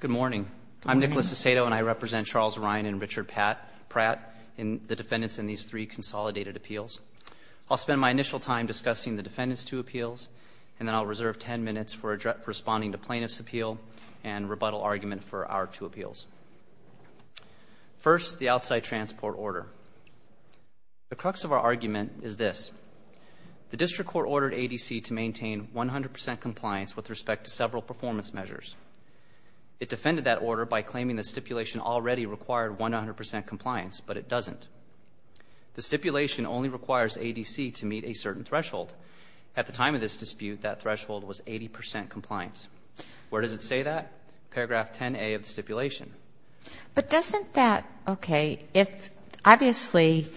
Good morning. I'm Nicholas Aceto, and I represent Charles Ryan and Richard Pratt, the defendants in these three consolidated appeals. I'll spend my initial time discussing the defendants' two appeals, and then I'll reserve ten minutes for responding to plaintiffs' appeal and rebuttal argument for our two appeals. First, the outside transport order. The crux of our argument is this. The District Court ordered ADC to maintain 100 percent compliance with respect to several performance measures. It defended that order by claiming the stipulation already required 100 percent compliance, but it doesn't. The stipulation only requires ADC to meet a certain threshold. At the time of this dispute, that threshold was 80 percent compliance. Where does it say that? Paragraph 10A of the stipulation. But doesn't that, okay, if obviously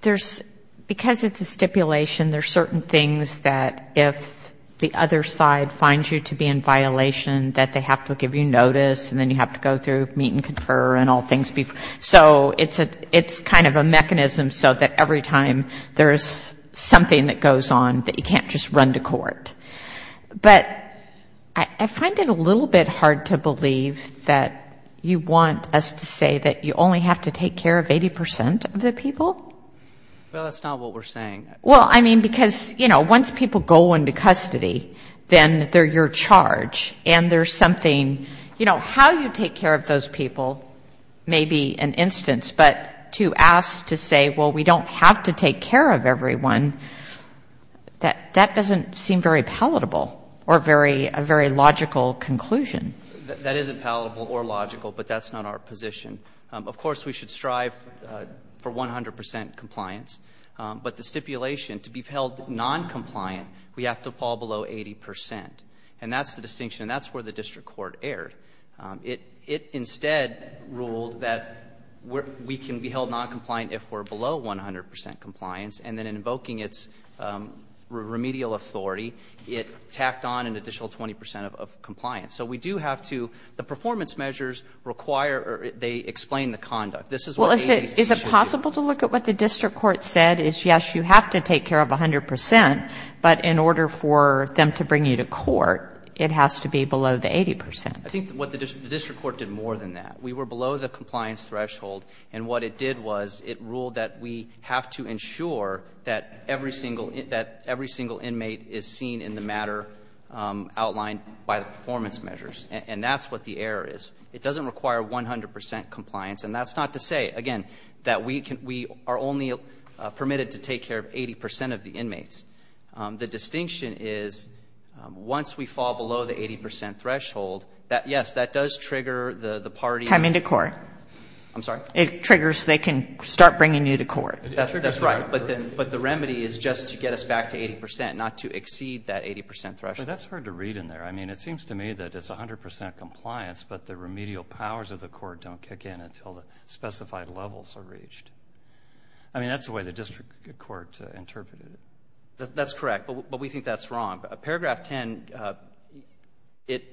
there's, because it's a stipulation, there's certain things that if the other side finds you to be in violation, that they have to give you notice and then you have to go through meet and confer and all things. So it's kind of a mechanism so that every time there's something that goes on, that you can't just run to court. But I find it a little bit hard to believe that you want us to say that you only have to take care of 80 percent of the people? Well, that's not what we're saying. Well, I mean, because, you know, once people go into custody, then they're your charge. And there's something, you know, how you take care of those people may be an instance. But to ask to say, well, we don't have to take care of everyone, that doesn't seem very palatable or very, a very logical conclusion. That isn't palatable or logical, but that's not our position. Of course, we should strive for 100 percent compliance. But the stipulation, to be held noncompliant, we have to fall below 80 percent. And that's the distinction, and that's where the district court erred. It instead ruled that we can be held noncompliant if we're below 100 percent compliance, and then in invoking its remedial authority, it tacked on an additional 20 percent of compliance. So we do have to the performance measures require or they explain the conduct. This is what we do. Is it possible to look at what the district court said is, yes, you have to take care of 100 percent, but in order for them to bring you to court, it has to be below the 80 percent. I think what the district court did more than that. We were below the compliance threshold, and what it did was it ruled that we have to ensure that every single inmate is seen in the matter outlined by the performance measures. And that's what the error is. It doesn't require 100 percent compliance, and that's not to say, again, that we are only permitted to take care of 80 percent of the inmates. The distinction is, once we fall below the 80 percent threshold, that, yes, that does trigger the party. Coming to court. I'm sorry? It triggers, they can start bringing you to court. That's right. But the remedy is just to get us back to 80 percent, not to exceed that 80 percent threshold. That's hard to read in there. I mean, it seems to me that it's 100 percent compliance, but the remedial powers of the court don't kick in until the specified levels are reached. I mean, that's the way the district court interpreted it. That's correct, but we think that's wrong. Paragraph 10, it,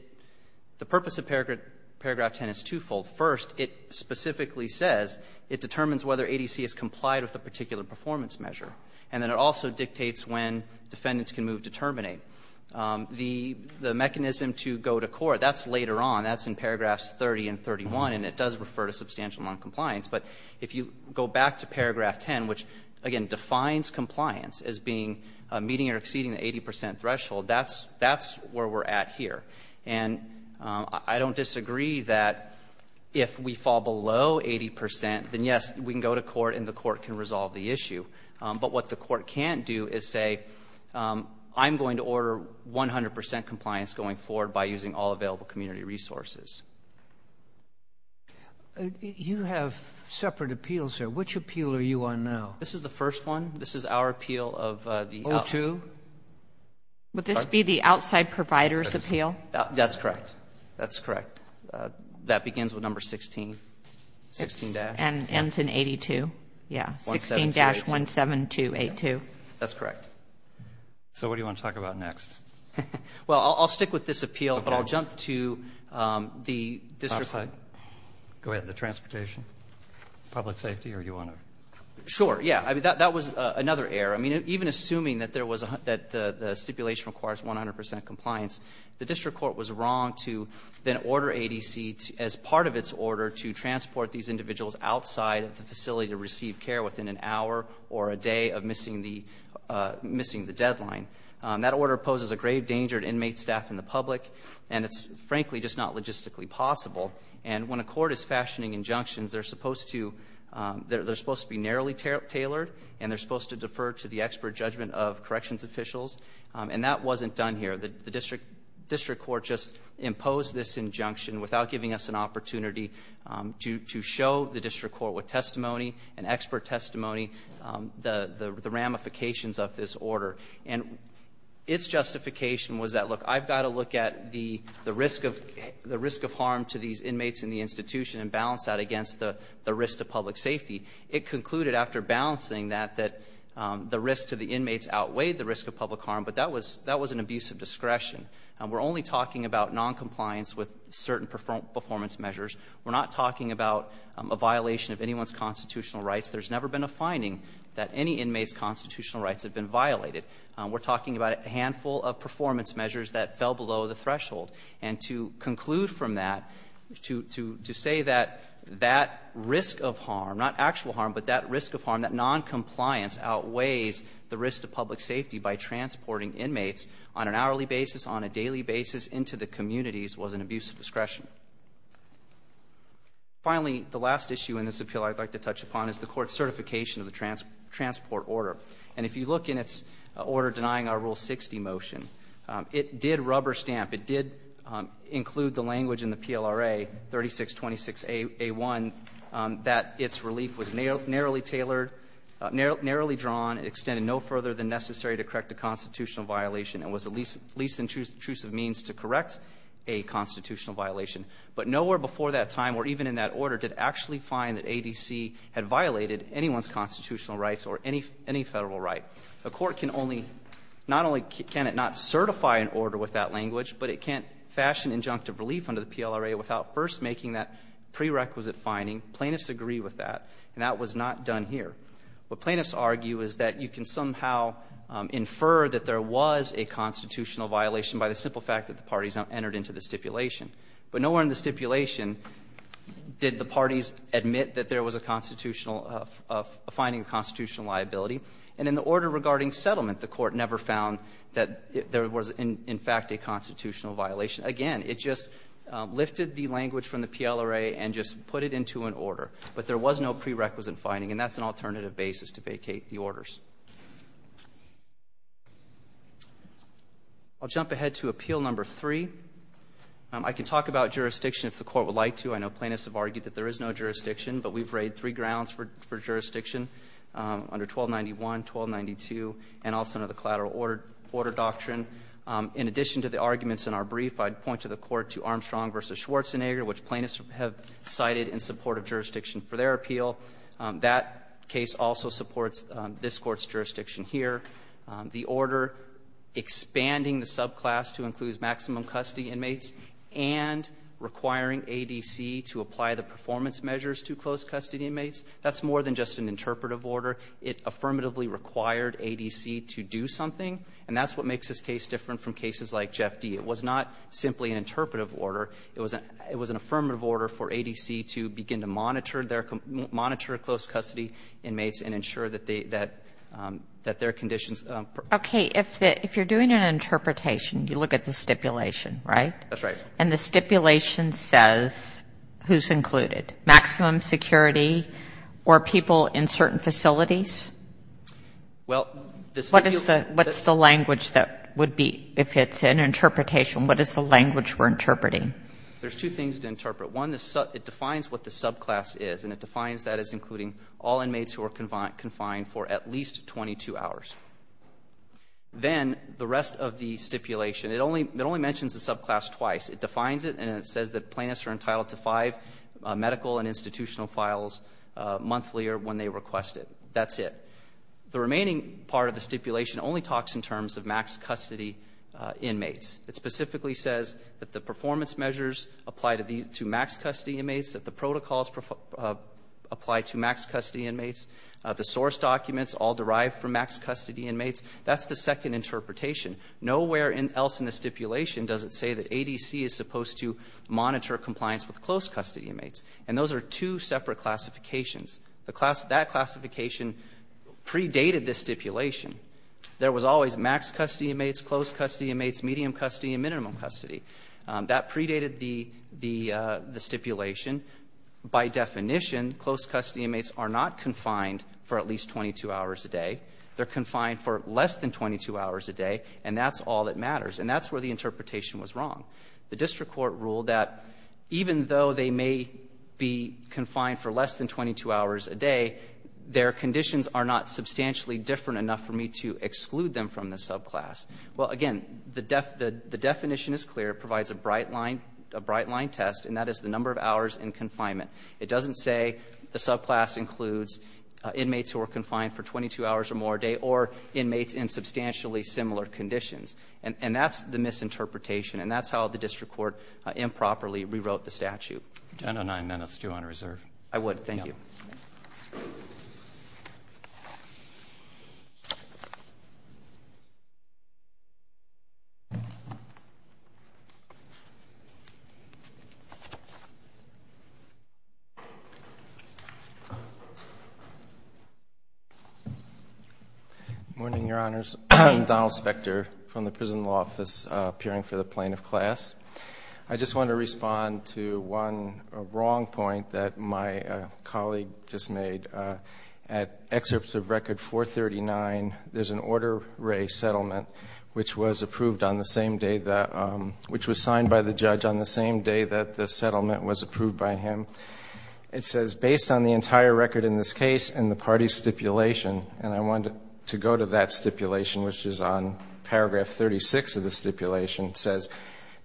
the purpose of paragraph 10 is twofold. First, it specifically says it determines whether ADC is complied with a particular performance measure. And then it also dictates when defendants can move to terminate. The mechanism to go to court, that's later on. That's in paragraphs 30 and 31, and it does refer to substantial noncompliance. But if you go back to paragraph 10, which, again, defines compliance as being meeting or exceeding the 80 percent threshold, that's where we're at here. And I don't disagree that if we fall below 80 percent, then, yes, we can go to court and the court can resolve the issue. But what the court can't do is say, I'm going to order 100 percent compliance going forward by using all available community resources. You have separate appeals here. Which appeal are you on now? This is the first one. This is our appeal of the O2? Would this be the outside provider's appeal? That's correct. That's correct. That begins with number 16, 16 dash. And ends in 82. Yeah. 16 dash 17282. That's correct. So what do you want to talk about next? Well, I'll stick with this appeal, but I'll jump to the district court. Go ahead. The transportation, public safety, or do you want to? Sure. Yeah. That was another error. I mean, even assuming that there was a the stipulation requires 100 percent compliance, the district court was wrong to then order ADC, as part of its order, to transport these individuals outside of the facility to receive care within an hour or a day of missing the deadline. That order poses a grave danger to inmate staff and the public, and it's frankly just not logistically possible. And when a court is fashioning injunctions, they're supposed to be narrowly tailored, and they're supposed to defer to the expert judgment of corrections officials. And that wasn't done here. The to show the district court with testimony, an expert testimony, the ramifications of this order. And its justification was that, look, I've got to look at the risk of harm to these inmates in the institution and balance that against the risk to public safety. It concluded, after balancing that, that the risk to the inmates outweighed the risk of public harm, but that was an abuse of discretion. We're only talking about noncompliance with certain performance measures. We're not talking about a violation of anyone's constitutional rights. There's never been a finding that any inmate's constitutional rights have been violated. We're talking about a handful of performance measures that fell below the threshold. And to conclude from that, to say that that risk of harm, not actual harm, but that risk of harm, that noncompliance outweighs the risk to public safety by transporting inmates on an hourly basis, on a daily basis, into the communities was an abuse of discretion. Finally, the last issue in this appeal I'd like to touch upon is the court's certification of the transport order. And if you look in its order denying our Rule 60 motion, it did rubber stamp, it did include the language in the PLRA, 3626A1, that its relief was narrowly tailored, narrowly drawn, it extended no further than necessary to correct a constitutional violation, and was the least intrusive means to correct a constitutional violation. But nowhere before that time or even in that order did it actually find that ADC had violated anyone's constitutional rights or any Federal right. A court can only, not only can it not certify an order with that language, but it can't fashion injunctive relief under the PLRA without first making that prerequisite finding. Plaintiffs agree with that. And that was not done here. What plaintiffs argue is that you can somehow infer that there was a constitutional violation by the simple fact that the parties entered into the stipulation. But nowhere in the stipulation did the parties admit that there was a finding of constitutional liability. And in the order regarding settlement, the court never found that there was, in fact, a constitutional violation. Again, it just lifted the language from the PLRA and just put it into an order. But there was no prerequisite finding, and that's an alternative basis to vacate the orders. I'll jump ahead to Appeal Number 3. I can talk about jurisdiction if the Court would like to. I know plaintiffs have argued that there is no jurisdiction, but we've laid three grounds for jurisdiction under 1291, 1292, and also under the Collateral Order Doctrine. In addition to the arguments in our brief, I'd point to the Court to Armstrong v. Schwarzenegger, which plaintiffs have cited in support of jurisdiction for their appeal. That case also supports this Court's jurisdiction here. The order expanding the subclass to include maximum custody inmates and requiring ADC to apply the performance measures to closed custody inmates, that's more than just an interpretive order. It affirmatively required ADC to do something, and that's what makes this case different from cases like Jeff D. It was not simply an interpretive order. It was an affirmative order for ADC to begin to monitor closed custody inmates and ensure that their conditions... Okay. If you're doing an interpretation, you look at the stipulation, right? That's right. And the stipulation says who's included, maximum security or people in certain facilities? Well, this... What is the language that would be, if it's an interpretation, what is the language we're interpreting? There's two things to interpret. One, it defines what the subclass is, and it defines that as including all inmates who are confined for at least 22 hours. Then, the rest of the stipulation, it only mentions the subclass twice. It defines it, and it says that plaintiffs are entitled to five medical and institutional files monthly or when they request it. That's it. The remaining part of the stipulation only talks in terms of max custody inmates. It specifically says that the performance measures apply to max custody inmates, that the protocols apply to max custody inmates. The source documents all derive from max custody inmates. That's the second interpretation. Nowhere else in the stipulation does it say that ADC is supposed to monitor compliance with closed custody inmates, and those are two separate classifications. That classification predated the stipulation. There was always max custody inmates, closed custody inmates, medium custody, and minimum custody. That predated the stipulation. By definition, closed custody inmates are not confined for at least 22 hours a day. They're confined for less than 22 hours a day, and that's all that matters, and that's where the interpretation was wrong. The district court ruled that even though they may be confined for less than 22 hours a day, their conditions are not substantially different enough for me to exclude them from the subclass. Well, again, the definition is clear. It provides a bright line test, and that is the number of hours in confinement. It doesn't say the subclass includes inmates who are confined for 22 hours or more a day or inmates in substantially similar conditions, and that's the misinterpretation, and that's how the district court improperly rewrote the statute. I know nine minutes, too, on reserve. I would. Thank you. Good morning, Your Honors. Donald Spector from the Prison Law Office, appearing for the first time. I'm going to read a passage that we just made. At excerpts of Record 439, there's an order ray settlement, which was signed by the judge on the same day that the settlement was approved by him. It says, based on the entire record in this case and the party stipulation, and I wanted to go to that stipulation, which is on paragraph 36 of the stipulation. It says,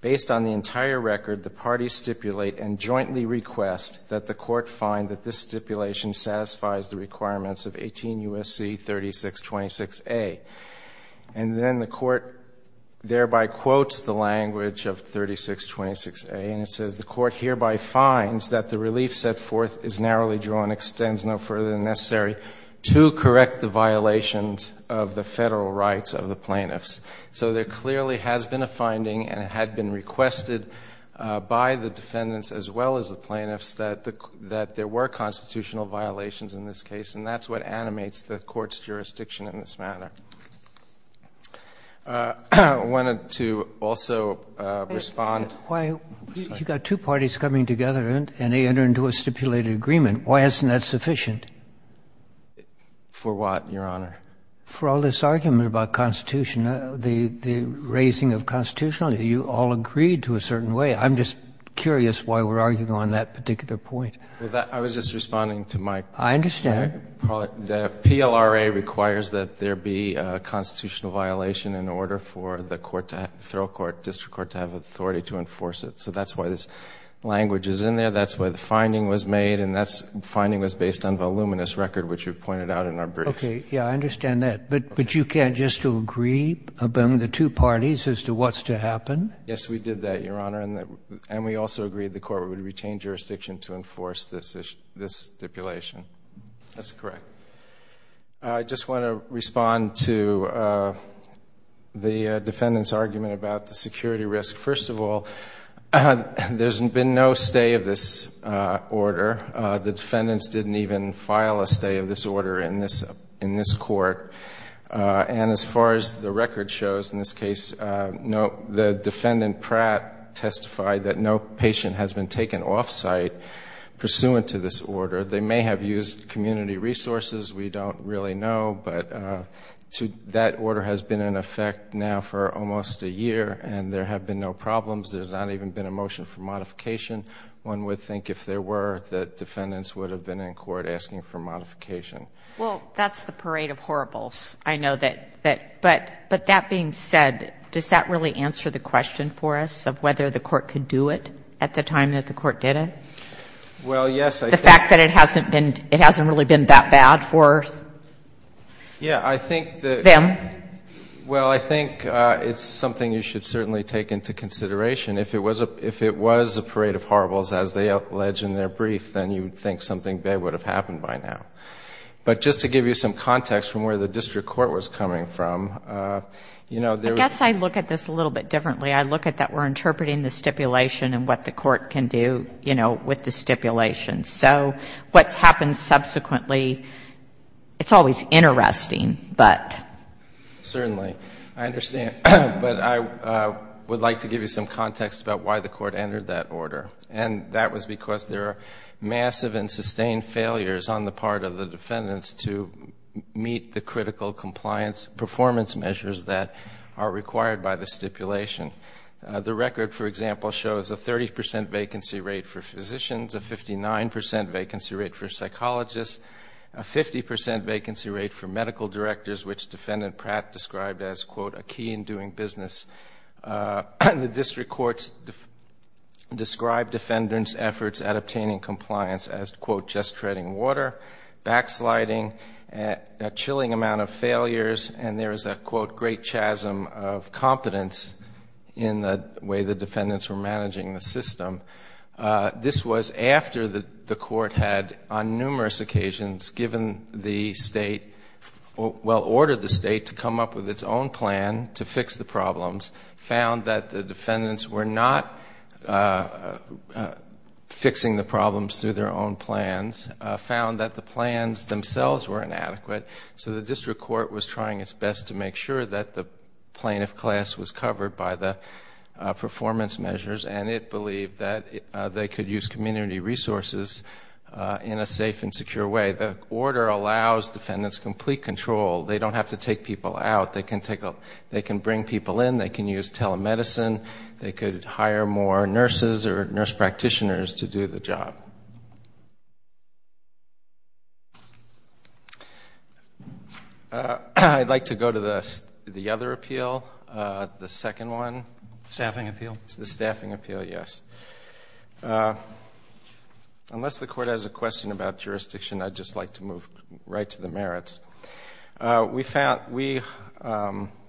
based on the entire record, the party stipulate and jointly request that the court find that this stipulation satisfies the requirements of 18 U.S.C. 3626a. And then the court thereby quotes the language of 3626a, and it says, the court hereby finds that the relief set forth is narrowly drawn, extends no further than necessary to correct the violations of the federal rights of the plaintiffs. So there clearly has been a finding and it had been requested by the defendants as well as the plaintiffs that there were constitutional violations in this case, and that's what animates the court's jurisdiction in this matter. I wanted to also respond. You've got two parties coming together and they enter into a stipulated agreement. Why isn't that sufficient? For what, Your Honor? For all this argument about Constitution, the raising of constitutionality, you all agreed to a certain way. I'm just curious why we're arguing on that particular point. I was just responding to my point. I understand. The PLRA requires that there be a constitutional violation in order for the court to have, the federal court, district court, to have authority to enforce it. So that's why this language is in there. That's why the finding was made, and that's, the finding was based on voluminous record, which you've pointed out in our briefs. Okay. Yeah, I understand that. But you can't just agree among the two parties as to what's to happen? Yes, we did that, Your Honor, and we also agreed the court would retain jurisdiction to enforce this stipulation. That's correct. I just want to respond to the defendant's argument about the security risk. First of all, there's been no stay of this order. The defendants didn't even file a stay of this in this court. And as far as the record shows in this case, the defendant, Pratt, testified that no patient has been taken off site pursuant to this order. They may have used community resources. We don't really know. But that order has been in effect now for almost a year, and there have been no problems. There's not even been a motion for modification. One would think if there were, that defendants would have been in court asking for modification. Well, that's the parade of horribles. I know that. But that being said, does that really answer the question for us of whether the court could do it at the time that the court did it? Well, yes, I think. The fact that it hasn't been, it hasn't really been that bad for them? Yeah, I think that, well, I think it's something you should certainly take into consideration. If it was a parade of horribles as they allege in their brief, then you would think something bad would have happened by now. But just to give you some context from where the district court was coming from, you know, there was I guess I look at this a little bit differently. I look at that we're interpreting the stipulation and what the court can do, you know, with the stipulation. So what's happened subsequently, it's always interesting, but Certainly. I understand. But I would like to give you some context about why the court And that was because there are massive and sustained failures on the part of the defendants to meet the critical compliance performance measures that are required by the stipulation. The record, for example, shows a 30 percent vacancy rate for physicians, a 59 percent vacancy rate for psychologists, a 50 percent vacancy rate for medical directors, which describe defendants' efforts at obtaining compliance as, quote, just treading water, backsliding, a chilling amount of failures, and there is a, quote, great chasm of competence in the way the defendants were managing the system. This was after the court had, on numerous occasions, given the state, well, ordered the state to come up with its own plan to fix the problems, found that the defendants were not fixing the problems through their own plans, found that the plans themselves were inadequate, so the district court was trying its best to make sure that the plaintiff class was covered by the performance measures, and it believed that they could use community resources in a safe and secure way. The order allows defendants complete control. They don't have to take people out. They can bring people in. They can use telemedicine. They could hire more nurses or nurse practitioners to do the job. I'd like to go to the other appeal, the second one. Staffing appeal? The staffing appeal, yes. Unless the court has a question about jurisdiction, I'd just like to move right to the merits. We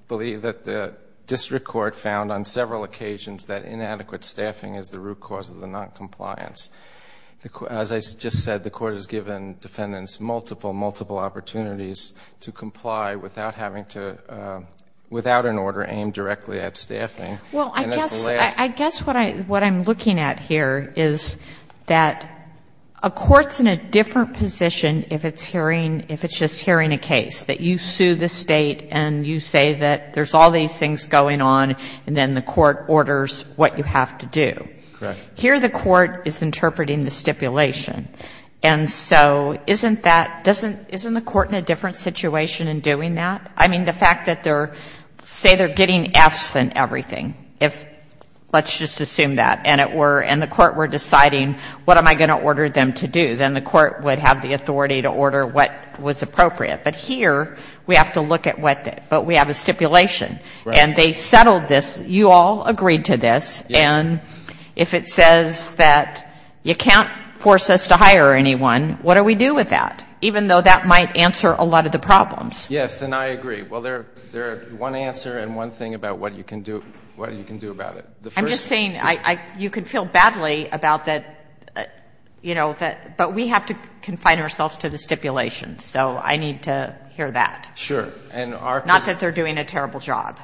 believe that the district court found on several occasions that inadequate staffing is the root cause of the noncompliance. As I just said, the court has given defendants multiple, multiple opportunities to comply without an order aimed directly at staffing. Well, I guess what I'm looking at here is that a court's in a different position if it's hearing, if it's just hearing a case, that you sue the State and you say that there's all these things going on, and then the court orders what you have to do. Correct. Here the court is interpreting the stipulation. And so isn't that, isn't the court in a different situation in doing that? I mean, the fact that they're, say they're getting Fs and everything, if let's just assume that, and it were, and the court were deciding what am I going to order them to do, then the court would have the authority to order what was appropriate. But here we have to look at what, but we have a stipulation. Right. And they settled this. You all agreed to this. Yes. And if it says that you can't force us to hire anyone, what do we do with that? Even though that might answer a lot of the problems. Yes. And I agree. Well, there, there are one answer and one thing about what you can do, what you can do about it. I'm just saying I, I, you can feel badly about that, you know, that, but we have to confine ourselves to the stipulation. So I need to hear that. Sure. And our Not that they're doing a terrible job.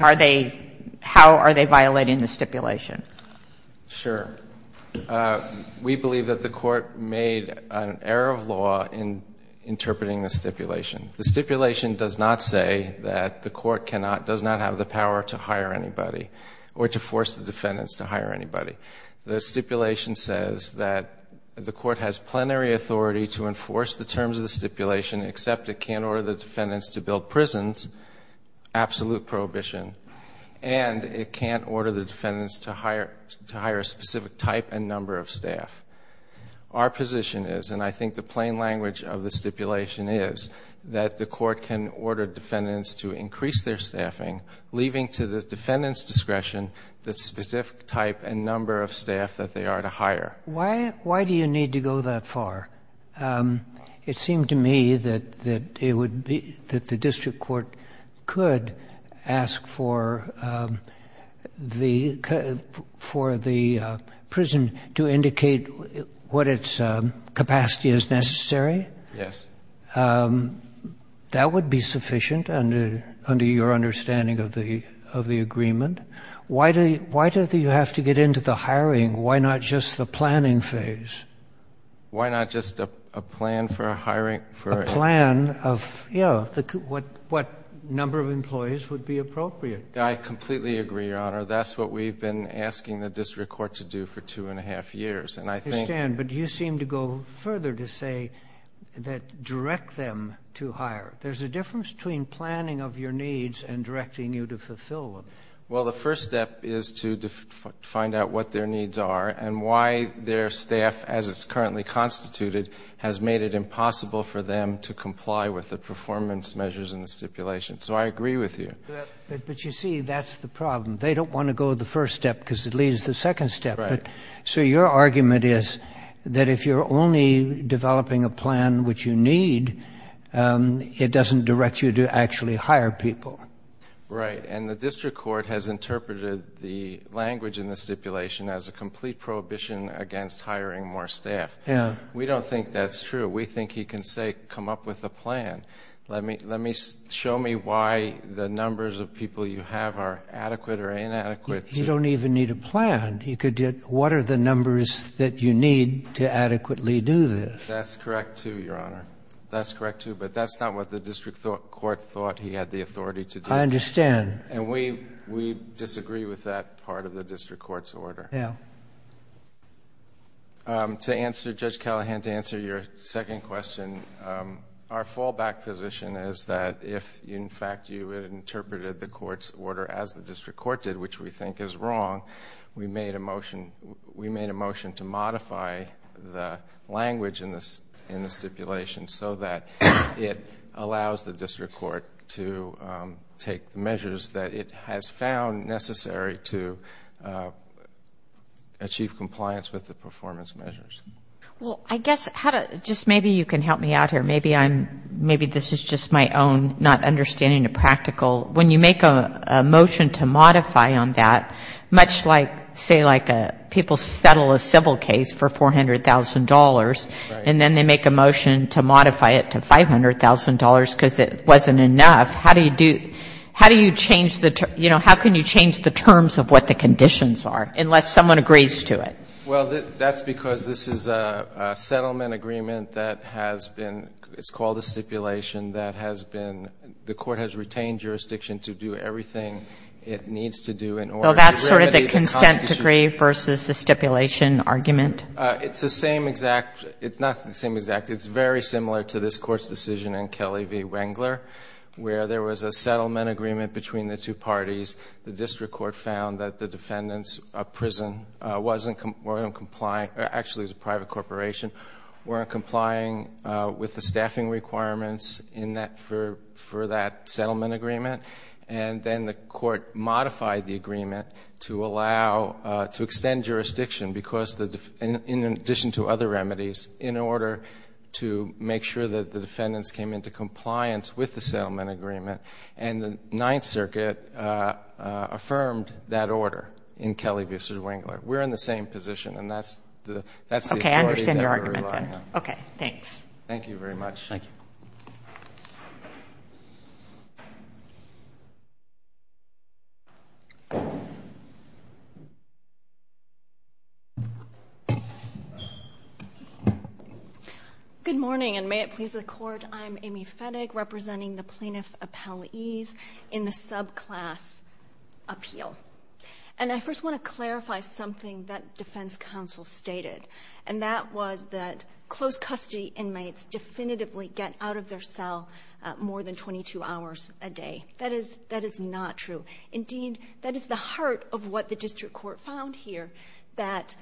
Are they, how are they violating the stipulation? Sure. We believe that the court made an error of law in interpreting the stipulation. The stipulation does not say that the court cannot, does not have the power to hire anybody or to force the defendants to hire anybody. The stipulation says that the court has plenary authority to enforce the terms of the stipulation, except it can't order the defendants to build to hire, to hire a specific type and number of staff. Our position is, and I think the plain language of the stipulation is, that the court can order defendants to increase their staffing, leaving to the defendant's discretion the specific type and number of staff that they are to hire. Why do you need to go that far? It seemed to me that, that it would be, that the district court could ask for the, for the prison to indicate what its capacity is necessary. Yes. That would be sufficient under, under your understanding of the, of the agreement. Why do, why do you have to get into the hiring? Why not just the planning phase? Why not just a, a plan for a hiring, for a... A plan of, you know, what, what number of employees would be appropriate? I completely agree, Your Honor. That's what we've been asking the district court to do for two and a half years, and I think... I understand, but you seem to go further to say that, direct them to hire. There's a difference between planning of your needs and directing you to fulfill them. Well, the first step is to find out what their needs are, and why their staff, as it's currently constituted, has made it impossible for them to comply with the performance measures in the stipulation. So I agree with you. But, but you see, that's the problem. They don't want to go the first step because it leads to the second step. Right. So your argument is that if you're only developing a plan which you need, it doesn't direct you to actually hire people. Right, and the district court has interpreted the language in the stipulation as a complete prohibition against hiring more staff. Yeah. We don't think that's true. We think he can say, come up with a plan. Let me, let me show me why the numbers of people you have are adequate or inadequate to... You don't even need a plan. You could get, what are the numbers that you need to adequately do this? That's correct too, Your Honor. That's correct too, but that's not what the district court thought he had the authority to do. I understand. And we, we disagree with that part of the district court's order. Yeah. To answer Judge Callahan, to answer your second question, our fallback position is that if in fact you had interpreted the court's order as the district court did, which we think is wrong, we made a motion, we made a motion to modify the language in this, in the stipulation so that it allows the district court to take measures that it has found necessary to achieve compliance with the performance measures. Well, I guess how to, just maybe you can help me out here. Maybe I'm, maybe this is just my own not understanding the practical. When you make a motion to modify on that, much like, say like a, people settle a civil case for $400,000 and then they make a motion to modify it to $500,000 because it wasn't enough, how do you do, how do you change the, you know, how can you change the terms of what the conditions are, unless someone agrees to it? Well, that's because this is a settlement agreement that has been, it's called a stipulation that has been, the court has retained jurisdiction to do everything it needs to do in order to remedy the constitution. Well, that's sort of the consent decree versus the stipulation argument. It's the same exact, it's not the same exact, it's very similar to this court's decision in Kelly v. Wengler, where there was a settlement agreement between the two parties. The district court found that the defendants of prison wasn't, weren't complying, actually it was a private corporation, weren't complying with the staffing requirements in that, for that settlement agreement. And then the court modified the agreement to allow, to extend jurisdiction because the, in addition to other remedies, in order to make sure that the defendants came into compliance with the settlement agreement, and the Ninth Circuit affirmed that order in Kelly v. Wengler. We're in the same position, and that's the, that's the authority that we're relying on. Okay, I understand your argument. Okay, thanks. Thank you very much. Thank you. Good morning, and may it please the court, I'm Amy Fetig, representing the plaintiff appellees in the subclass appeal. And I first want to clarify something that defense counsel stated, and that was that closed custody inmates definitively get out of their cell more than 22 hours a day. That is, that is not true. Indeed, that is the heart of what the district court found here, that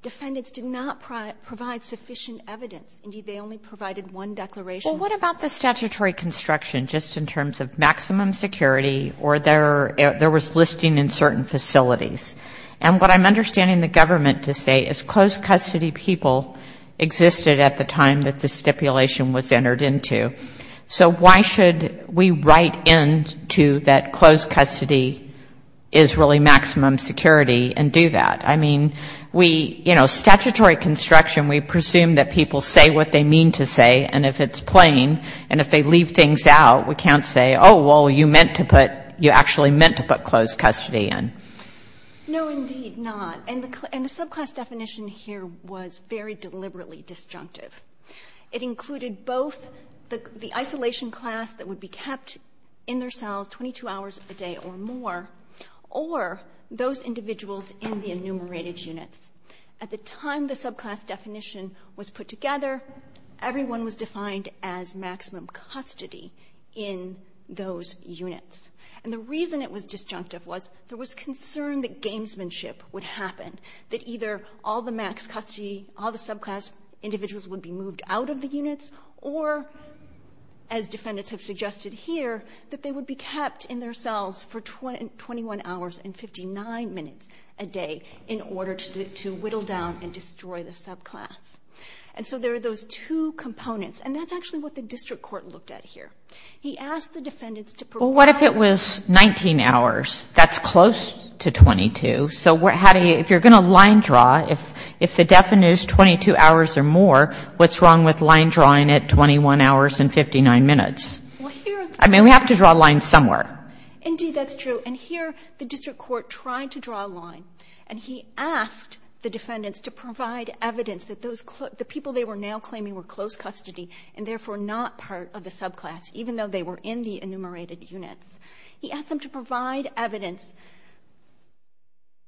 defendants did not provide sufficient evidence. Indeed, they only provided one declaration. Well, what about the statutory construction, just in terms of maximum security, or there was listing in certain facilities? And what I'm understanding the government to say is closed custody people existed at the time that this stipulation was entered into. So why should we write into that closed custody is really maximum security and do that? I mean, we, you know, statutory construction, we presume that people say what they mean to say, and if it's plain, and if they leave things out, we can't say, oh, well, you meant to put, you actually meant to put closed custody in. No, indeed not. And the subclass definition here was very deliberately disjunctive. It was a subclass that would be kept in their cells 22 hours a day or more, or those individuals in the enumerated units. At the time the subclass definition was put together, everyone was defined as maximum custody in those units. And the reason it was disjunctive was there was concern that gamesmanship would happen, that either all the max custody, all the subclass individuals would be moved out of the units, or as defendants have suggested here, that they would be kept in their cells for 21 hours and 59 minutes a day in order to whittle down and destroy the subclass. And so there are those two components. And that's actually what the district court looked at here. He asked the defendants to provide Well, what if it was 19 hours? That's close to 22. So how do you, if you're going to line up 22 hours or more, what's wrong with line drawing at 21 hours and 59 minutes? I mean, we have to draw a line somewhere. Indeed, that's true. And here the district court tried to draw a line. And he asked the defendants to provide evidence that those, the people they were now claiming were closed custody and therefore not part of the subclass, even though they were in the enumerated units. He asked them to provide evidence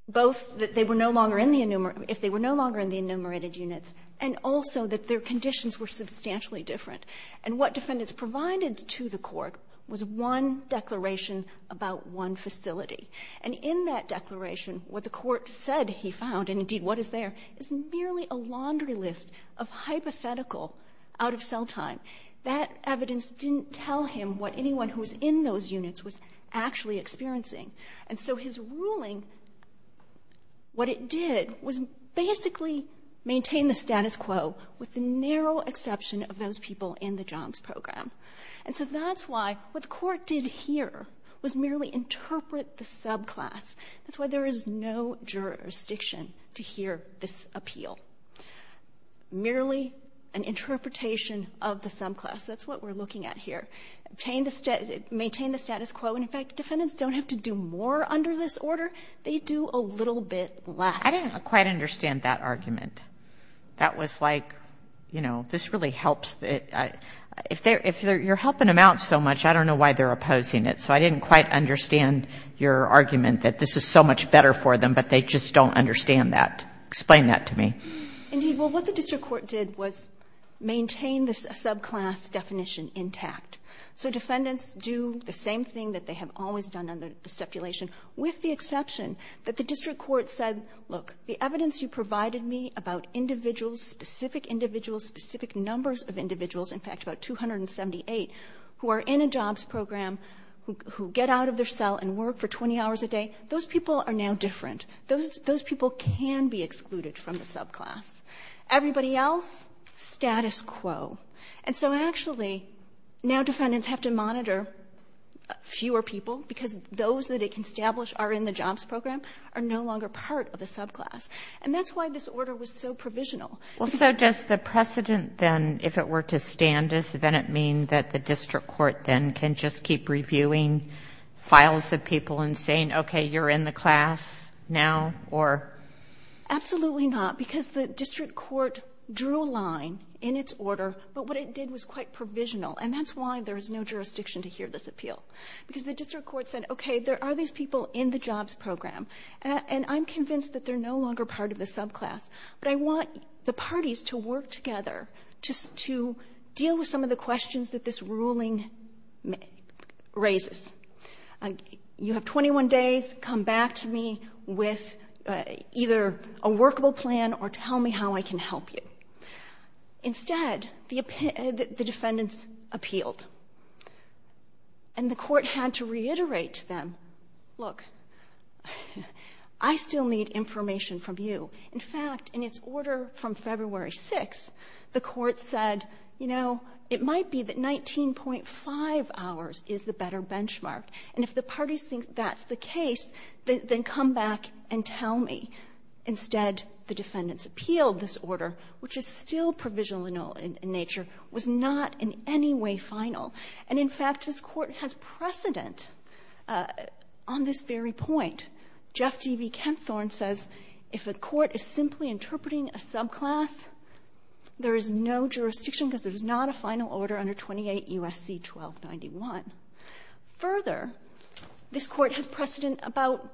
both that they were no longer in the enumerated units and also that their conditions were substantially different. And what defendants provided to the court was one declaration about one facility. And in that declaration, what the court said he found, and indeed what is there, is merely a laundry list of hypothetical out-of-cell time. That evidence didn't tell him what anyone who was in those units was actually experiencing. And so his ruling, what it did was basically maintain the status quo with the narrow exception of those people in the jobs program. And so that's why what the court did here was merely interpret the subclass. That's why there is no jurisdiction to hear this appeal. Merely an interpretation of the subclass. That's what we're looking at here. Maintain the status quo. And in fact, defendants don't have to do more under this order. They do a little bit less. I didn't quite understand that argument. That was like, you know, this really helps. If you're helping them out so much, I don't know why they're opposing it. So I didn't quite understand your argument that this is so much better for them, but they just don't understand that. Explain that to me. Indeed. Well, what the district court did was maintain the subclass definition intact. So defendants do the same thing that they have always done under the stipulation, with the exception that the district court said, look, the evidence you provided me about individuals, specific individuals, specific numbers of individuals, in fact about 278, who are in a jobs program, who get out of their cell and work for 20 hours a day, those people are now different. Those people can be excluded from the subclass. Everybody else, status quo. And so actually, now defendants have to monitor fewer people, because those that it can establish are in the jobs program are no longer part of the subclass. And that's why this order was so provisional. Well, so does the precedent then, if it were to stand us, then it mean that the district court then can just keep reviewing files of people and saying, okay, you're in the class now, or? Absolutely not, because the district court drew a line in its order, but what it did was quite provisional, and that's why there is no jurisdiction to hear this appeal. Because the district court said, okay, there are these people in the jobs program, and I'm convinced that they're no longer part of the subclass, but I want the parties to work together just to deal with some of the questions that this ruling raises. You have 21 days, come back to me with either a workable plan or tell me how I can help you. Instead, the defendants appealed, and the court had to reiterate to them, look, I still need information from you. In fact, in its order from February 6, the court said, you know, it might be that 19.5 hours is the better benchmark, and if the parties think that's the case, then come back and tell me. Instead, the defendants appealed this order, which is still provisional in nature, was not in any way final. And in fact, this Court has precedent on this very point. Jeff D.B. Kempthorne says if a court is simply interpreting a subclass, there is no jurisdiction because there is not a final order under 28 U.S.C. 1291. Further, this Court has precedent about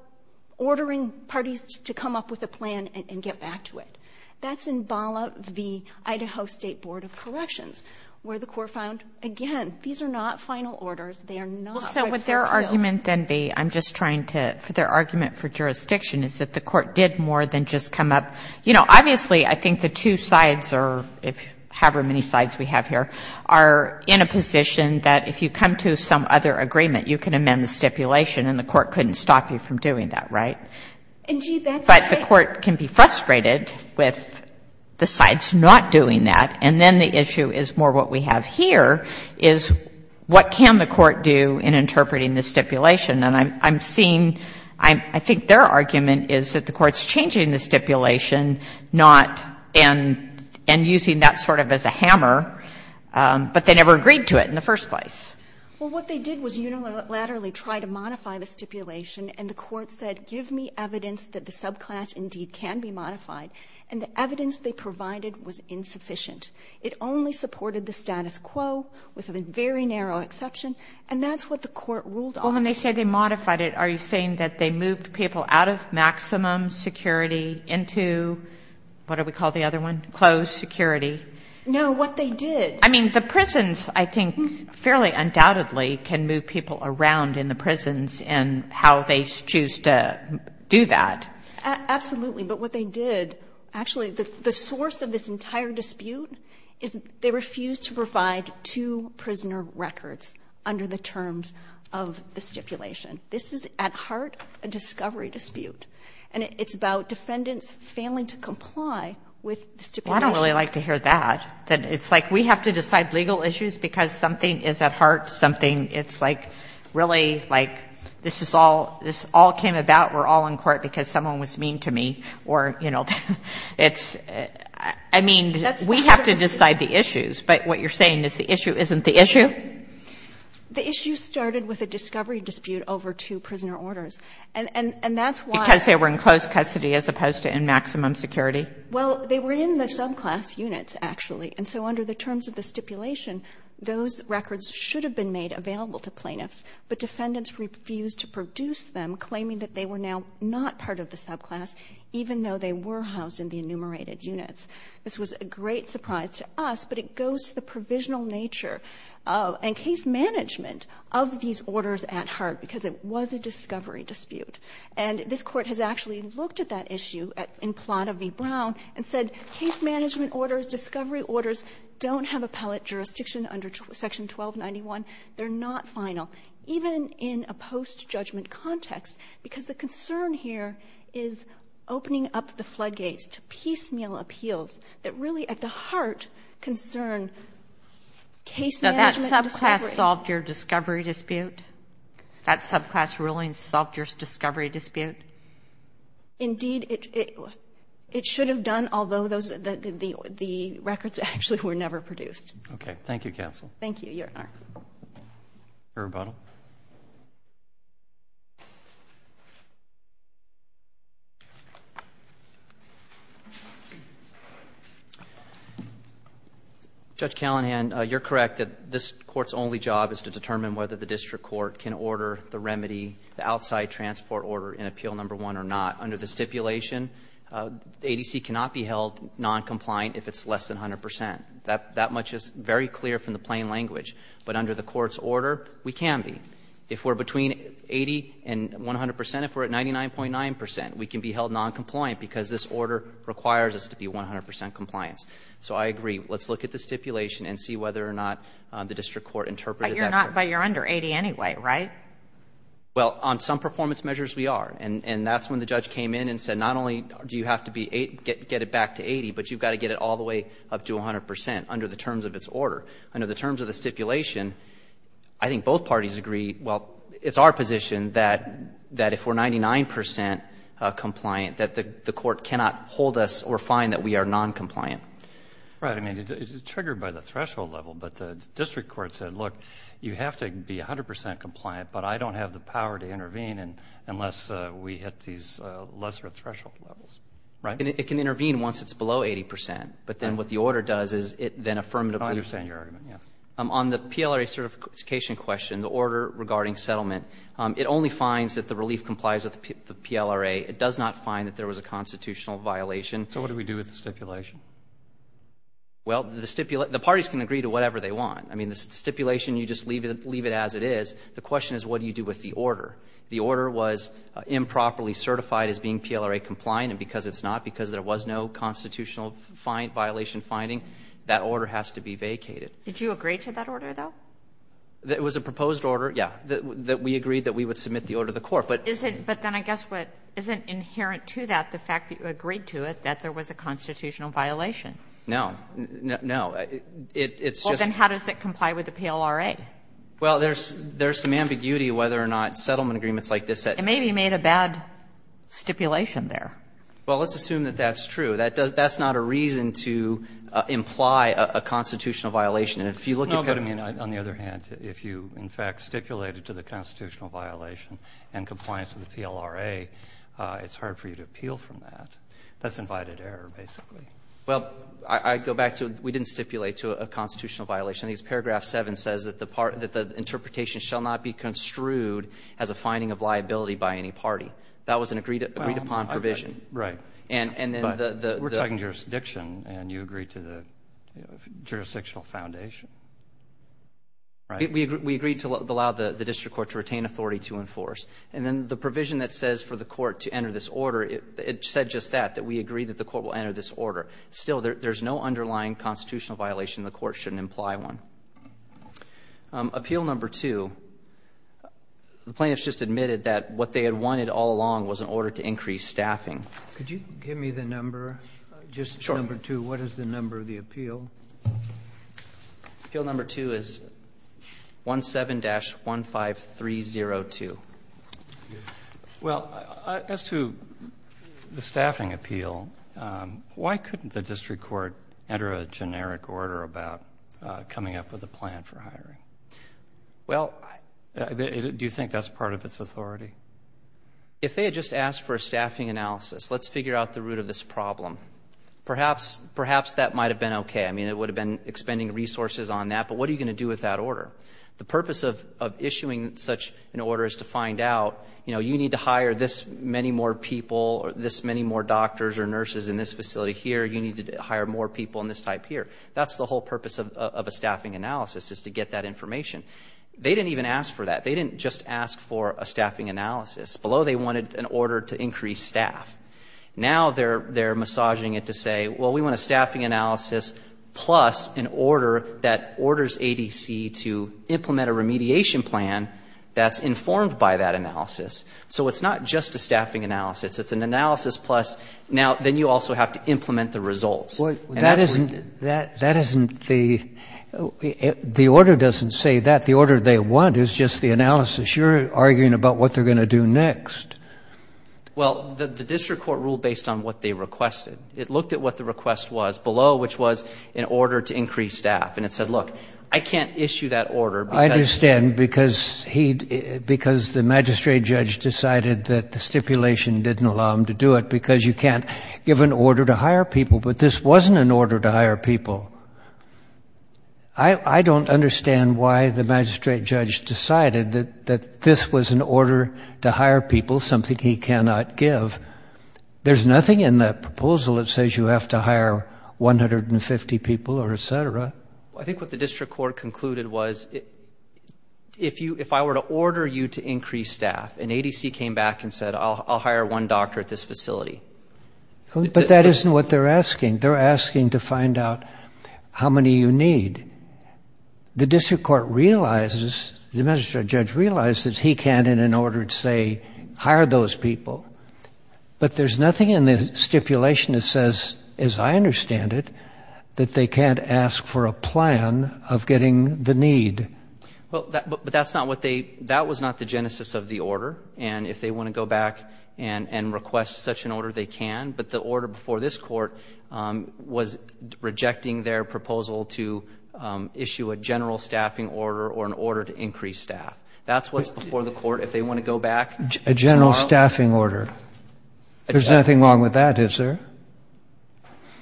ordering parties to come up with a plan and get back to it. That's in VALA v. Idaho State Board of Corrections, where the court found, again, these are not final orders. They are not rightfully appealed. So would their argument then be, I'm just trying to, their argument for jurisdiction is that the court did more than just come up, you know, obviously, I think the two sides are, however many sides we have here, are in a position that if you come to some other agreement, you can amend the stipulation, and the court couldn't stop you from doing that, right? But the court can be frustrated with the sides not doing that, and then the issue is more what we have here, is what can the court do in interpreting the stipulation? And I'm seeing, I think their argument is that the court's changing the stipulation, not, and using that sort of as a hammer, but they never agreed to it in the first place. Well, what they did was unilaterally try to modify the stipulation, and the court said, give me evidence that the subclass indeed can be modified, and the evidence they provided was insufficient. It only supported the status quo, with a very narrow exception, and that's what the court ruled on. Well, when they say they modified it, are you saying that they moved people out of maximum security into, what do we call the other one? Closed security? No, what they did... I mean, the prisons, I think, fairly undoubtedly can move people around in the prisons, and how they choose to do that. Absolutely, but what they did, actually, the source of this entire dispute is they refused to provide two prisoner records under the terms of the stipulation. This is at heart a discovery dispute, and it's about defendants failing to comply with the stipulation. Well, I don't really like to hear that, that it's like we have to decide legal issues because something is at heart something, it's like, really, like, this is all, this all came about, we're all in court because someone was mean to me, or, you know, it's, I mean, we have to decide the issues, but what you're saying is the issue isn't the issue? The issue started with a discovery dispute over two prisoner orders, and that's why... Because they were in closed custody as opposed to in maximum security? Well, they were in the subclass units, actually, and so under the terms of the stipulation, those records should have been made available to plaintiffs, but defendants refused to produce them, claiming that they were now not part of the subclass, even though they were housed in the enumerated units. This was a great surprise to us, but it goes to the provisional nature and case management of these orders at heart, because it was a discovery dispute. And this Court has actually looked at that issue in Plata v. Brown and said case management orders, discovery orders, don't have appellate jurisdiction under Section 1291. They're not final, even in a post-judgment context, because the concern here is opening up the floodgates to piecemeal appeals that really, at the heart, concern case management... Now, that subclass solved your discovery dispute? That subclass ruling solved your discovery dispute? Indeed, it should have done, although the records actually were never produced. Okay. Thank you, Counsel. Thank you, Your Honor. Your rebuttal. Judge Callahan, you're correct that this Court's only job is to determine whether the District Court can order the remedy, the outside transport order in Appeal No. 1 or not. Under the stipulation, the ADC cannot be held noncompliant if it's less than 100 percent. That much is very clear from the plain language. But under the Court's order, we can be. If we're between 80 and 100 percent, if we're at 99.9 percent, we can be held noncompliant because this order requires us to be 100 percent compliant. So I agree. Let's look at the stipulation and see whether or not the District Court interpreted that... But you're under 80 anyway, right? Well, on some performance measures we are. And that's when the judge came in and said not only do you have to get it back to 80, but you've got to get it all the way up to 100 percent under the terms of its order. Under the terms of the stipulation, I think both parties agree, well, it's our position that if we're 99 percent compliant, that the Court cannot hold us or find that we are noncompliant. Right. I mean, it's triggered by the threshold level. But the District Court said, look, you have to be 100 percent compliant, but I don't have the power to intervene unless we hit these lesser threshold levels. Right. And it can intervene once it's below 80 percent. But then what the order does is it then affirmatively... I understand your argument. Yeah. On the PLRA certification question, the order regarding settlement, it only finds that the relief complies with the PLRA. It does not find that there was a constitutional violation. So what do we do with the stipulation? Well, the parties can agree to whatever they want. I mean, the stipulation, you just leave it as it is. The question is, what do you do with the order? The order was improperly compliant, and because it's not, because there was no constitutional violation finding, that order has to be vacated. Did you agree to that order, though? It was a proposed order, yeah, that we agreed that we would submit the order to the Court. But... But then I guess what isn't inherent to that, the fact that you agreed to it, that there was a constitutional violation. No. No. It's just... Well, then how does it comply with the PLRA? Well, there's some ambiguity whether or not settlement agreements like this that... So maybe you made a bad stipulation there. Well, let's assume that that's true. That's not a reason to imply a constitutional violation. And if you look at Pettyman, on the other hand, if you, in fact, stipulated to the constitutional violation and compliance with the PLRA, it's hard for you to appeal from that. That's invited error, basically. Well, I go back to we didn't stipulate to a constitutional violation. I think it's paragraph 7 says that the interpretation shall not be construed as a finding of liability by any party. That was an agreed-upon provision. Well, I'm... Right. And then the... But we're talking jurisdiction, and you agreed to the jurisdictional foundation. Right? We agreed to allow the district court to retain authority to enforce. And then the provision that says for the court to enter this order, it said just that, that we agreed that the court will enter this order. Still, there's no underlying constitutional violation. The court shouldn't imply one. Appeal number 2, the plaintiffs just admitted that what they had wanted all along was an order to increase staffing. Could you give me the number, just number 2? Sure. What is the number of the appeal? Appeal number 2 is 17-15302. Well, as to the staffing appeal, why couldn't the district court enter a generic order about coming up with a plan for hiring? Well... Do you think that's part of its authority? If they had just asked for a staffing analysis, let's figure out the root of this problem. Perhaps that might have been okay. I mean, it would have been expending resources on that, but what are you going to do with that order? The purpose of issuing such an order is to find out, you know, you need to hire this many more people, this many more doctors or nurses in this facility here, you need to hire more people in this type here. That's the whole purpose of a staffing analysis, is to get that information. They didn't even ask for that. They didn't just ask for a staffing analysis. Below they wanted an order to increase staff. Now they're massaging it to say, well, we want a staffing analysis plus an order that orders ADC to implement a remediation plan that's informed by that analysis. So it's not just a staffing analysis. It's an analysis plus now then you also have to implement the results. That isn't the... The order doesn't say that. The order they want is just the analysis. You're arguing about what they're going to do next. Well, the district court ruled based on what they requested. It looked at what the request was below, which was an order to increase staff. And it said, look, I can't issue that order because... Because the magistrate judge decided that the stipulation didn't allow him to do it because you can't give an order to hire people. But this wasn't an order to hire people. I don't understand why the magistrate judge decided that this was an order to hire people, something he cannot give. There's nothing in that proposal that says you have to hire 150 people or et cetera. I think what the district court concluded was if I were to order you to increase staff and ADC came back and said, I'll hire one doctor at this facility. But that isn't what they're asking. They're asking to find out how many you need. The district court realizes, the magistrate judge realizes he can't in an order to say hire those people. But there's nothing in the stipulation that says, as I understand it, that they can't ask for a plan of getting the need. But that's not what they, that was not the genesis of the order. And if they want to go back and request such an order, they can. But the order before this court was rejecting their proposal to issue a general staffing order or an order to increase staff. That's what's before the court. If they want to go back... A general staffing order. There's nothing wrong with that, is there?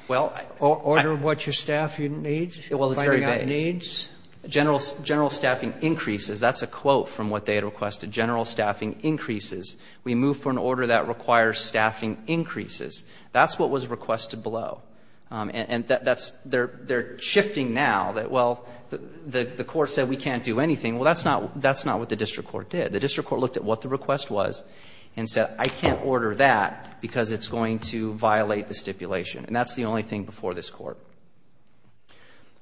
Well, I... Order what your staff needs? Well, it's very vague. Finding out needs? General, general staffing increases. That's a quote from what they had requested. General staffing increases. We move for an order that requires staffing increases. That's what was requested below. And that's, they're shifting now that, well, the court said we can't do anything. Well, that's not, that's not what the district court did. The district court looked at what the request was and said, I can't order that because it's going to violate the stipulation. And that's the only thing before this court.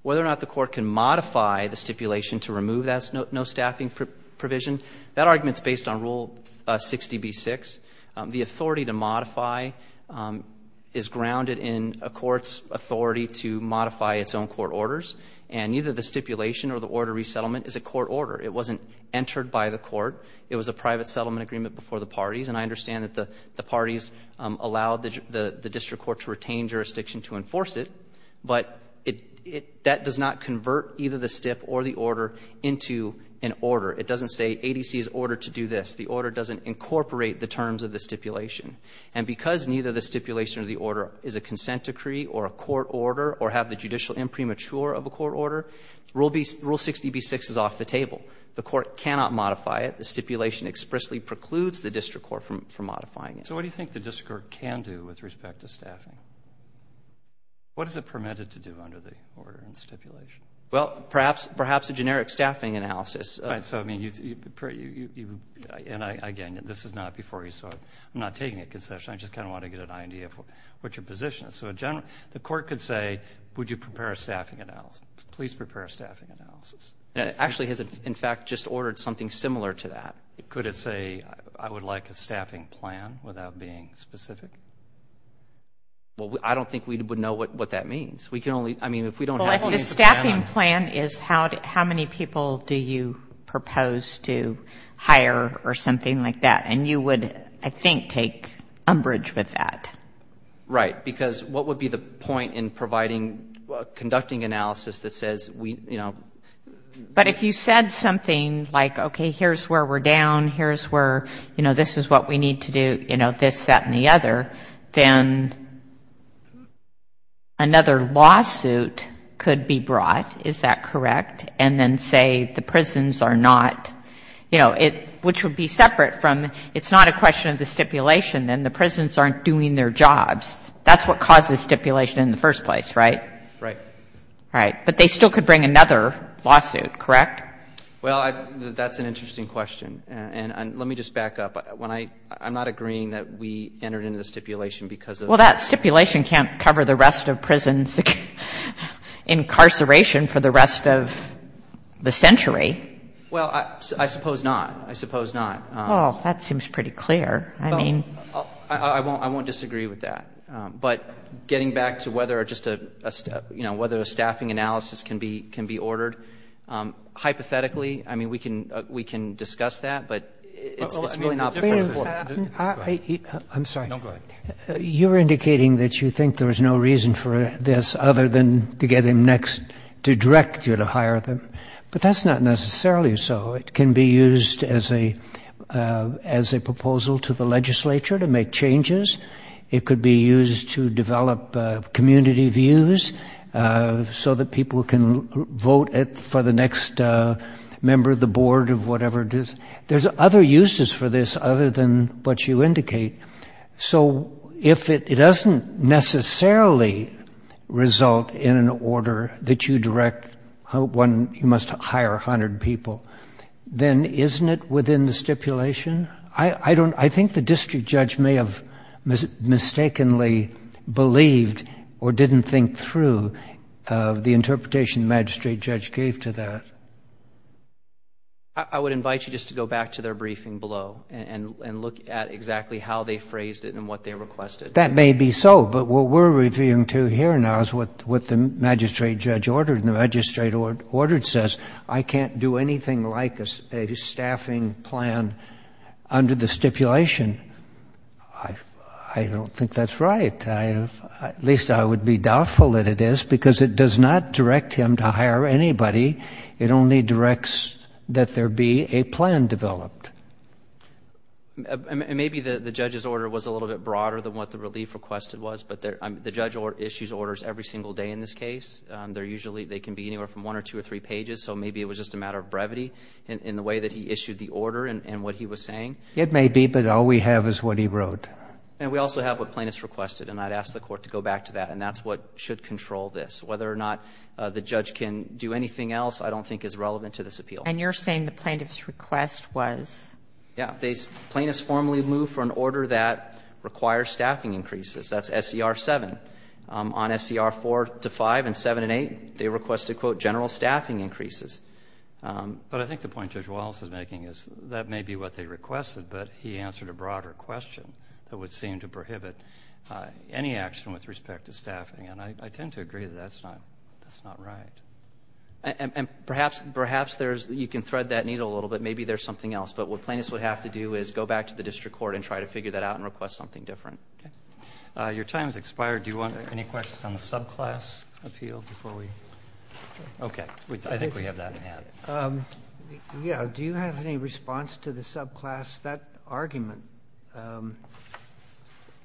Whether or not the court can modify the stipulation to remove that no staffing provision, that argument's based on Rule 60b-6. The authority to modify is grounded in a court's authority to modify its own court orders. And either the stipulation or the order resettlement is a court order. It wasn't entered by the court. It was a private settlement agreement before the parties. And I understand that the parties allowed the district court to retain jurisdiction to enforce it. But it, it, that does not convert either the stip or the order into an order. It doesn't say ADC is ordered to do this. The order doesn't incorporate the terms of the stipulation. And because neither the stipulation or the order is a consent decree or a court order or have the judicial imprimatur of a court order, Rule 60b-6 is off the table. The court cannot modify it. The stipulation expressly precludes the district court from, from modifying it. So what do you think the district court can do with respect to staffing? What is it permitted to do under the order and stipulation? Well, perhaps, perhaps a generic staffing analysis. All right. So, I mean, you, you, you, you, you, and I, again, this is not before you saw it. I'm not taking a concession. I just kind of want to get an idea of what, what your position is. So a general, the court could say, would you prepare a staffing analysis? Please prepare a staffing analysis. It actually has, in fact, just ordered something similar to that. Could it say, I would like a staffing plan without being specific? Well, I don't think we would know what, what that means. We can only, I mean, if we don't have a plan on it. Well, if the staffing plan is how, how many people do you propose to hire or something like that? And you would, I think, take umbrage with that. Right. Because what would be the point in providing, conducting analysis that says we, you know. But if you said something like, okay, here's where we're down, here's where, you know, this is what we need to do, you know, this, that, and the other, then another lawsuit could be brought, is that correct? And then say the prisons are not, you know, it, which would be separate from, it's not a question of the stipulation, then the prisons aren't doing their jobs. That's what causes stipulation in the first place, right? Right. Right. But they still could bring another lawsuit, correct? Well, I, that's an interesting question. And, and let me just back up. When I, I'm not agreeing that we entered into the stipulation because of. Well, that stipulation can't cover the rest of prison's incarceration for the rest of the century. Well, I, I suppose not. I suppose not. Oh, that seems pretty clear. I mean. I won't, I won't disagree with that. But getting back to whether or just a, you know, whether a staffing analysis can be, can be ordered, hypothetically, I mean, we can, we can discuss that, but it's, it's really not. Wait a minute. I, I, I'm sorry. No, go ahead. You're indicating that you think there's no reason for this other than to get him next to direct you to hire them. But that's not necessarily so. It can be used as a, as a measure to make changes. It could be used to develop community views so that people can vote for the next member of the board of whatever it is. There's other uses for this other than what you indicate. So if it, it doesn't necessarily result in an order that you direct one, you must hire a hundred people, then isn't it within the stipulation? I, I don't, I think the district judge may have mistakenly believed or didn't think through the interpretation the magistrate judge gave to that. I would invite you just to go back to their briefing below and, and look at exactly how they phrased it and what they requested. That may be so, but what we're referring to here now is what, what the magistrate judge ordered and the magistrate ordered says, I can't do anything like a staffing plan under the stipulation. I, I don't think that's right. I, at least I would be doubtful that it is because it does not direct him to hire anybody. It only directs that there be a plan developed. Maybe the, the judge's order was a little bit broader than what the relief request was, but there, the judge issues orders every single day in this case. They're usually, they can be anywhere from one or two or three pages, so maybe it was just a matter of brevity in, in the way that he issued the order and, and what he was saying. It may be, but all we have is what he wrote. And we also have what plaintiffs requested, and I'd ask the Court to go back to that, and that's what should control this. Whether or not the judge can do anything else, I don't think is relevant to this appeal. And you're saying the plaintiff's request was? Yeah. They, plaintiffs formally move for an order that requires staffing increases. That's SCR 7. On SCR 4 to 5 and 7 and 8, they requested, quote, general staffing increases. But I think the point Judge Wallace is making is that may be what they requested, but he answered a broader question that would seem to prohibit any action with respect to staffing. And I, I tend to agree that that's not, that's not right. And, and perhaps, perhaps there's, you can thread that needle a little bit. Maybe there's something else. But what plaintiffs would have to do is go back to the district court and try to figure that out and request something different. Okay. Your time has expired. Do you want any questions on the subclass appeal before we? Okay. I think we have that in hand. Yeah. Do you have any response to the subclass? That argument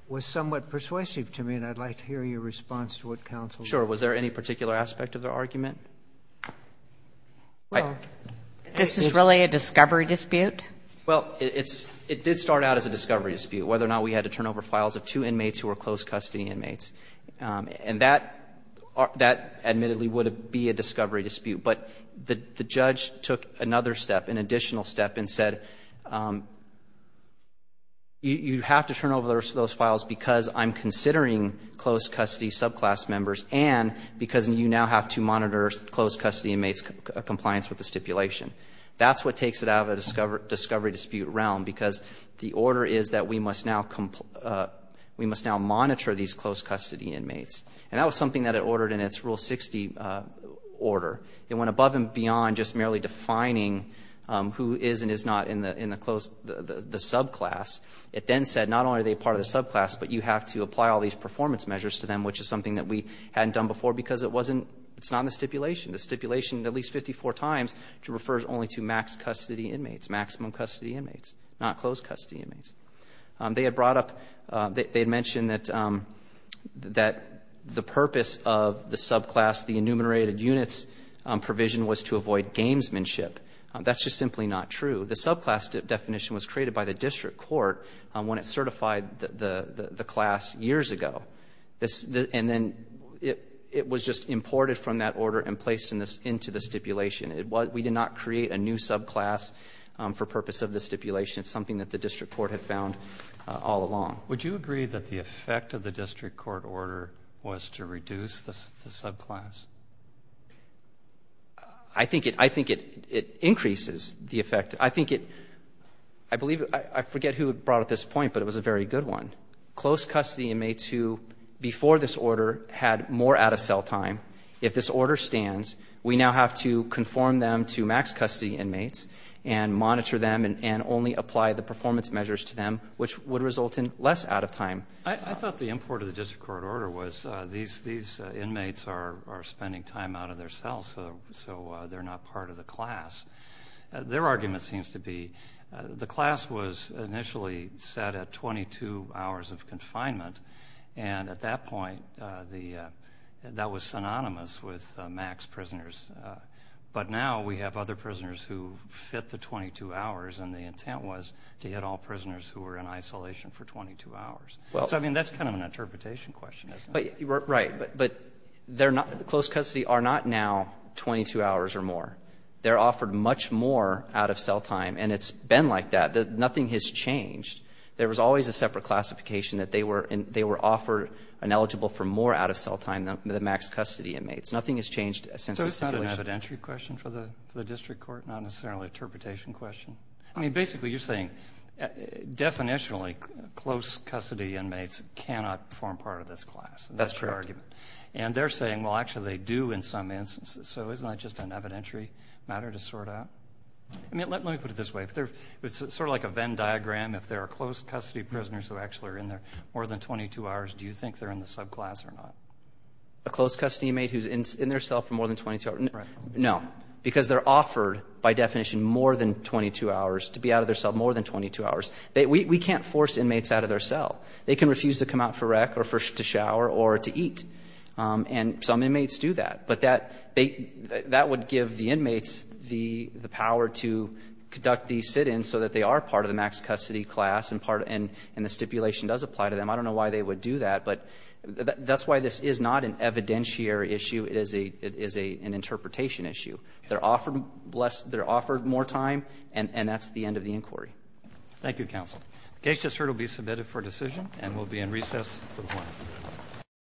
was somewhat persuasive to me, and I'd like to hear your response to what counsel. Sure. Was there any particular aspect of the argument? Well, this is really a discovery dispute? Well, it, it's, it did start out as a discovery dispute, whether or not we had to turn over files of two inmates who were closed custody inmates. And that, that admittedly would be a discovery dispute. But the, the judge took another step, an additional step, and said, you, you have to turn over those files because I'm considering closed custody subclass members, and because you now have to monitor closed custody inmates' compliance with the stipulation. That's what takes it out of the discovery dispute realm, because the order is that we must now, we must now monitor these closed custody inmates. And that was something that it ordered in its Rule 60 order. It went above and beyond just merely defining who is and is not in the, in the closed, the, the subclass. It then said, not only are they part of the subclass, but you have to provide performance measures to them, which is something that we hadn't done before because it wasn't, it's not in the stipulation. The stipulation, at least 54 times, refers only to max custody inmates, maximum custody inmates, not closed custody inmates. They had brought up, they, they had mentioned that, that the purpose of the subclass, the enumerated units provision was to avoid gamesmanship. That's just simply not true. The subclass definition was created by the district court when it certified the, the, the class years ago. And then it, it was just imported from that order and placed in this, into the stipulation. It was, we did not create a new subclass for purpose of the stipulation. It's something that the district court had found all along. Would you agree that the effect of the district court order was to reduce the, the subclass? I think it, I think it, it increases the effect. I think it, I believe, I, I forget who brought up this point, but it was a very good one. Close custody inmates who, before this order, had more out of cell time. If this order stands, we now have to conform them to max custody inmates and monitor them and, and only apply the performance measures to them, which would result in less out of time. I thought the import of the district court order was these, these inmates are, are spending time out of their cells. So, so they're not part of the class. Their argument seems to be the class was initially set at 22 hours of confinement. And at that point the, that was synonymous with max prisoners. But now we have other prisoners who fit the 22 hours and the intent was to hit all prisoners who were in isolation for 22 hours. Well. So, I mean, that's kind of an interpretation question, isn't it? But, right. But, but they're not, close custody are not now 22 hours or more. They're offered much more out of cell time and it's been like that. Nothing has changed. There was always a separate classification that they were, they were offered and eligible for more out of cell time than the max custody inmates. Nothing has changed since the situation. So it's not an evidentiary question for the, for the district court, not necessarily an I mean, basically you're saying, definitionally, close custody inmates cannot form part of this class. That's correct. And that's your argument. And they're saying, well, actually they do in some instances. So isn't that just an evidentiary matter to sort out? I mean, let, let me put it this way. If they're, it's sort of like a Venn diagram. If there are close custody prisoners who actually are in there more than 22 hours, do you think they're in the subclass or not? A close custody inmate who's in their cell for more than 22 hours? Right. No. Because they're offered, by definition, more than 22 hours, to be out of their cell more than 22 hours. We, we can't force inmates out of their cell. They can refuse to come out for rec or for, to shower or to eat. And some inmates do that. But that, they, that would give the inmates the, the power to conduct these sit-ins so that they are part of the max custody class and part, and, and the stipulation does apply to them. I don't know why they would do that, but that's why this is not an evidentiary issue. It is a, it is a, an interpretation issue. They're offered less, they're offered more time and, and that's the end of the inquiry. Thank you, Counsel. The case just heard will be submitted for decision and will be in recess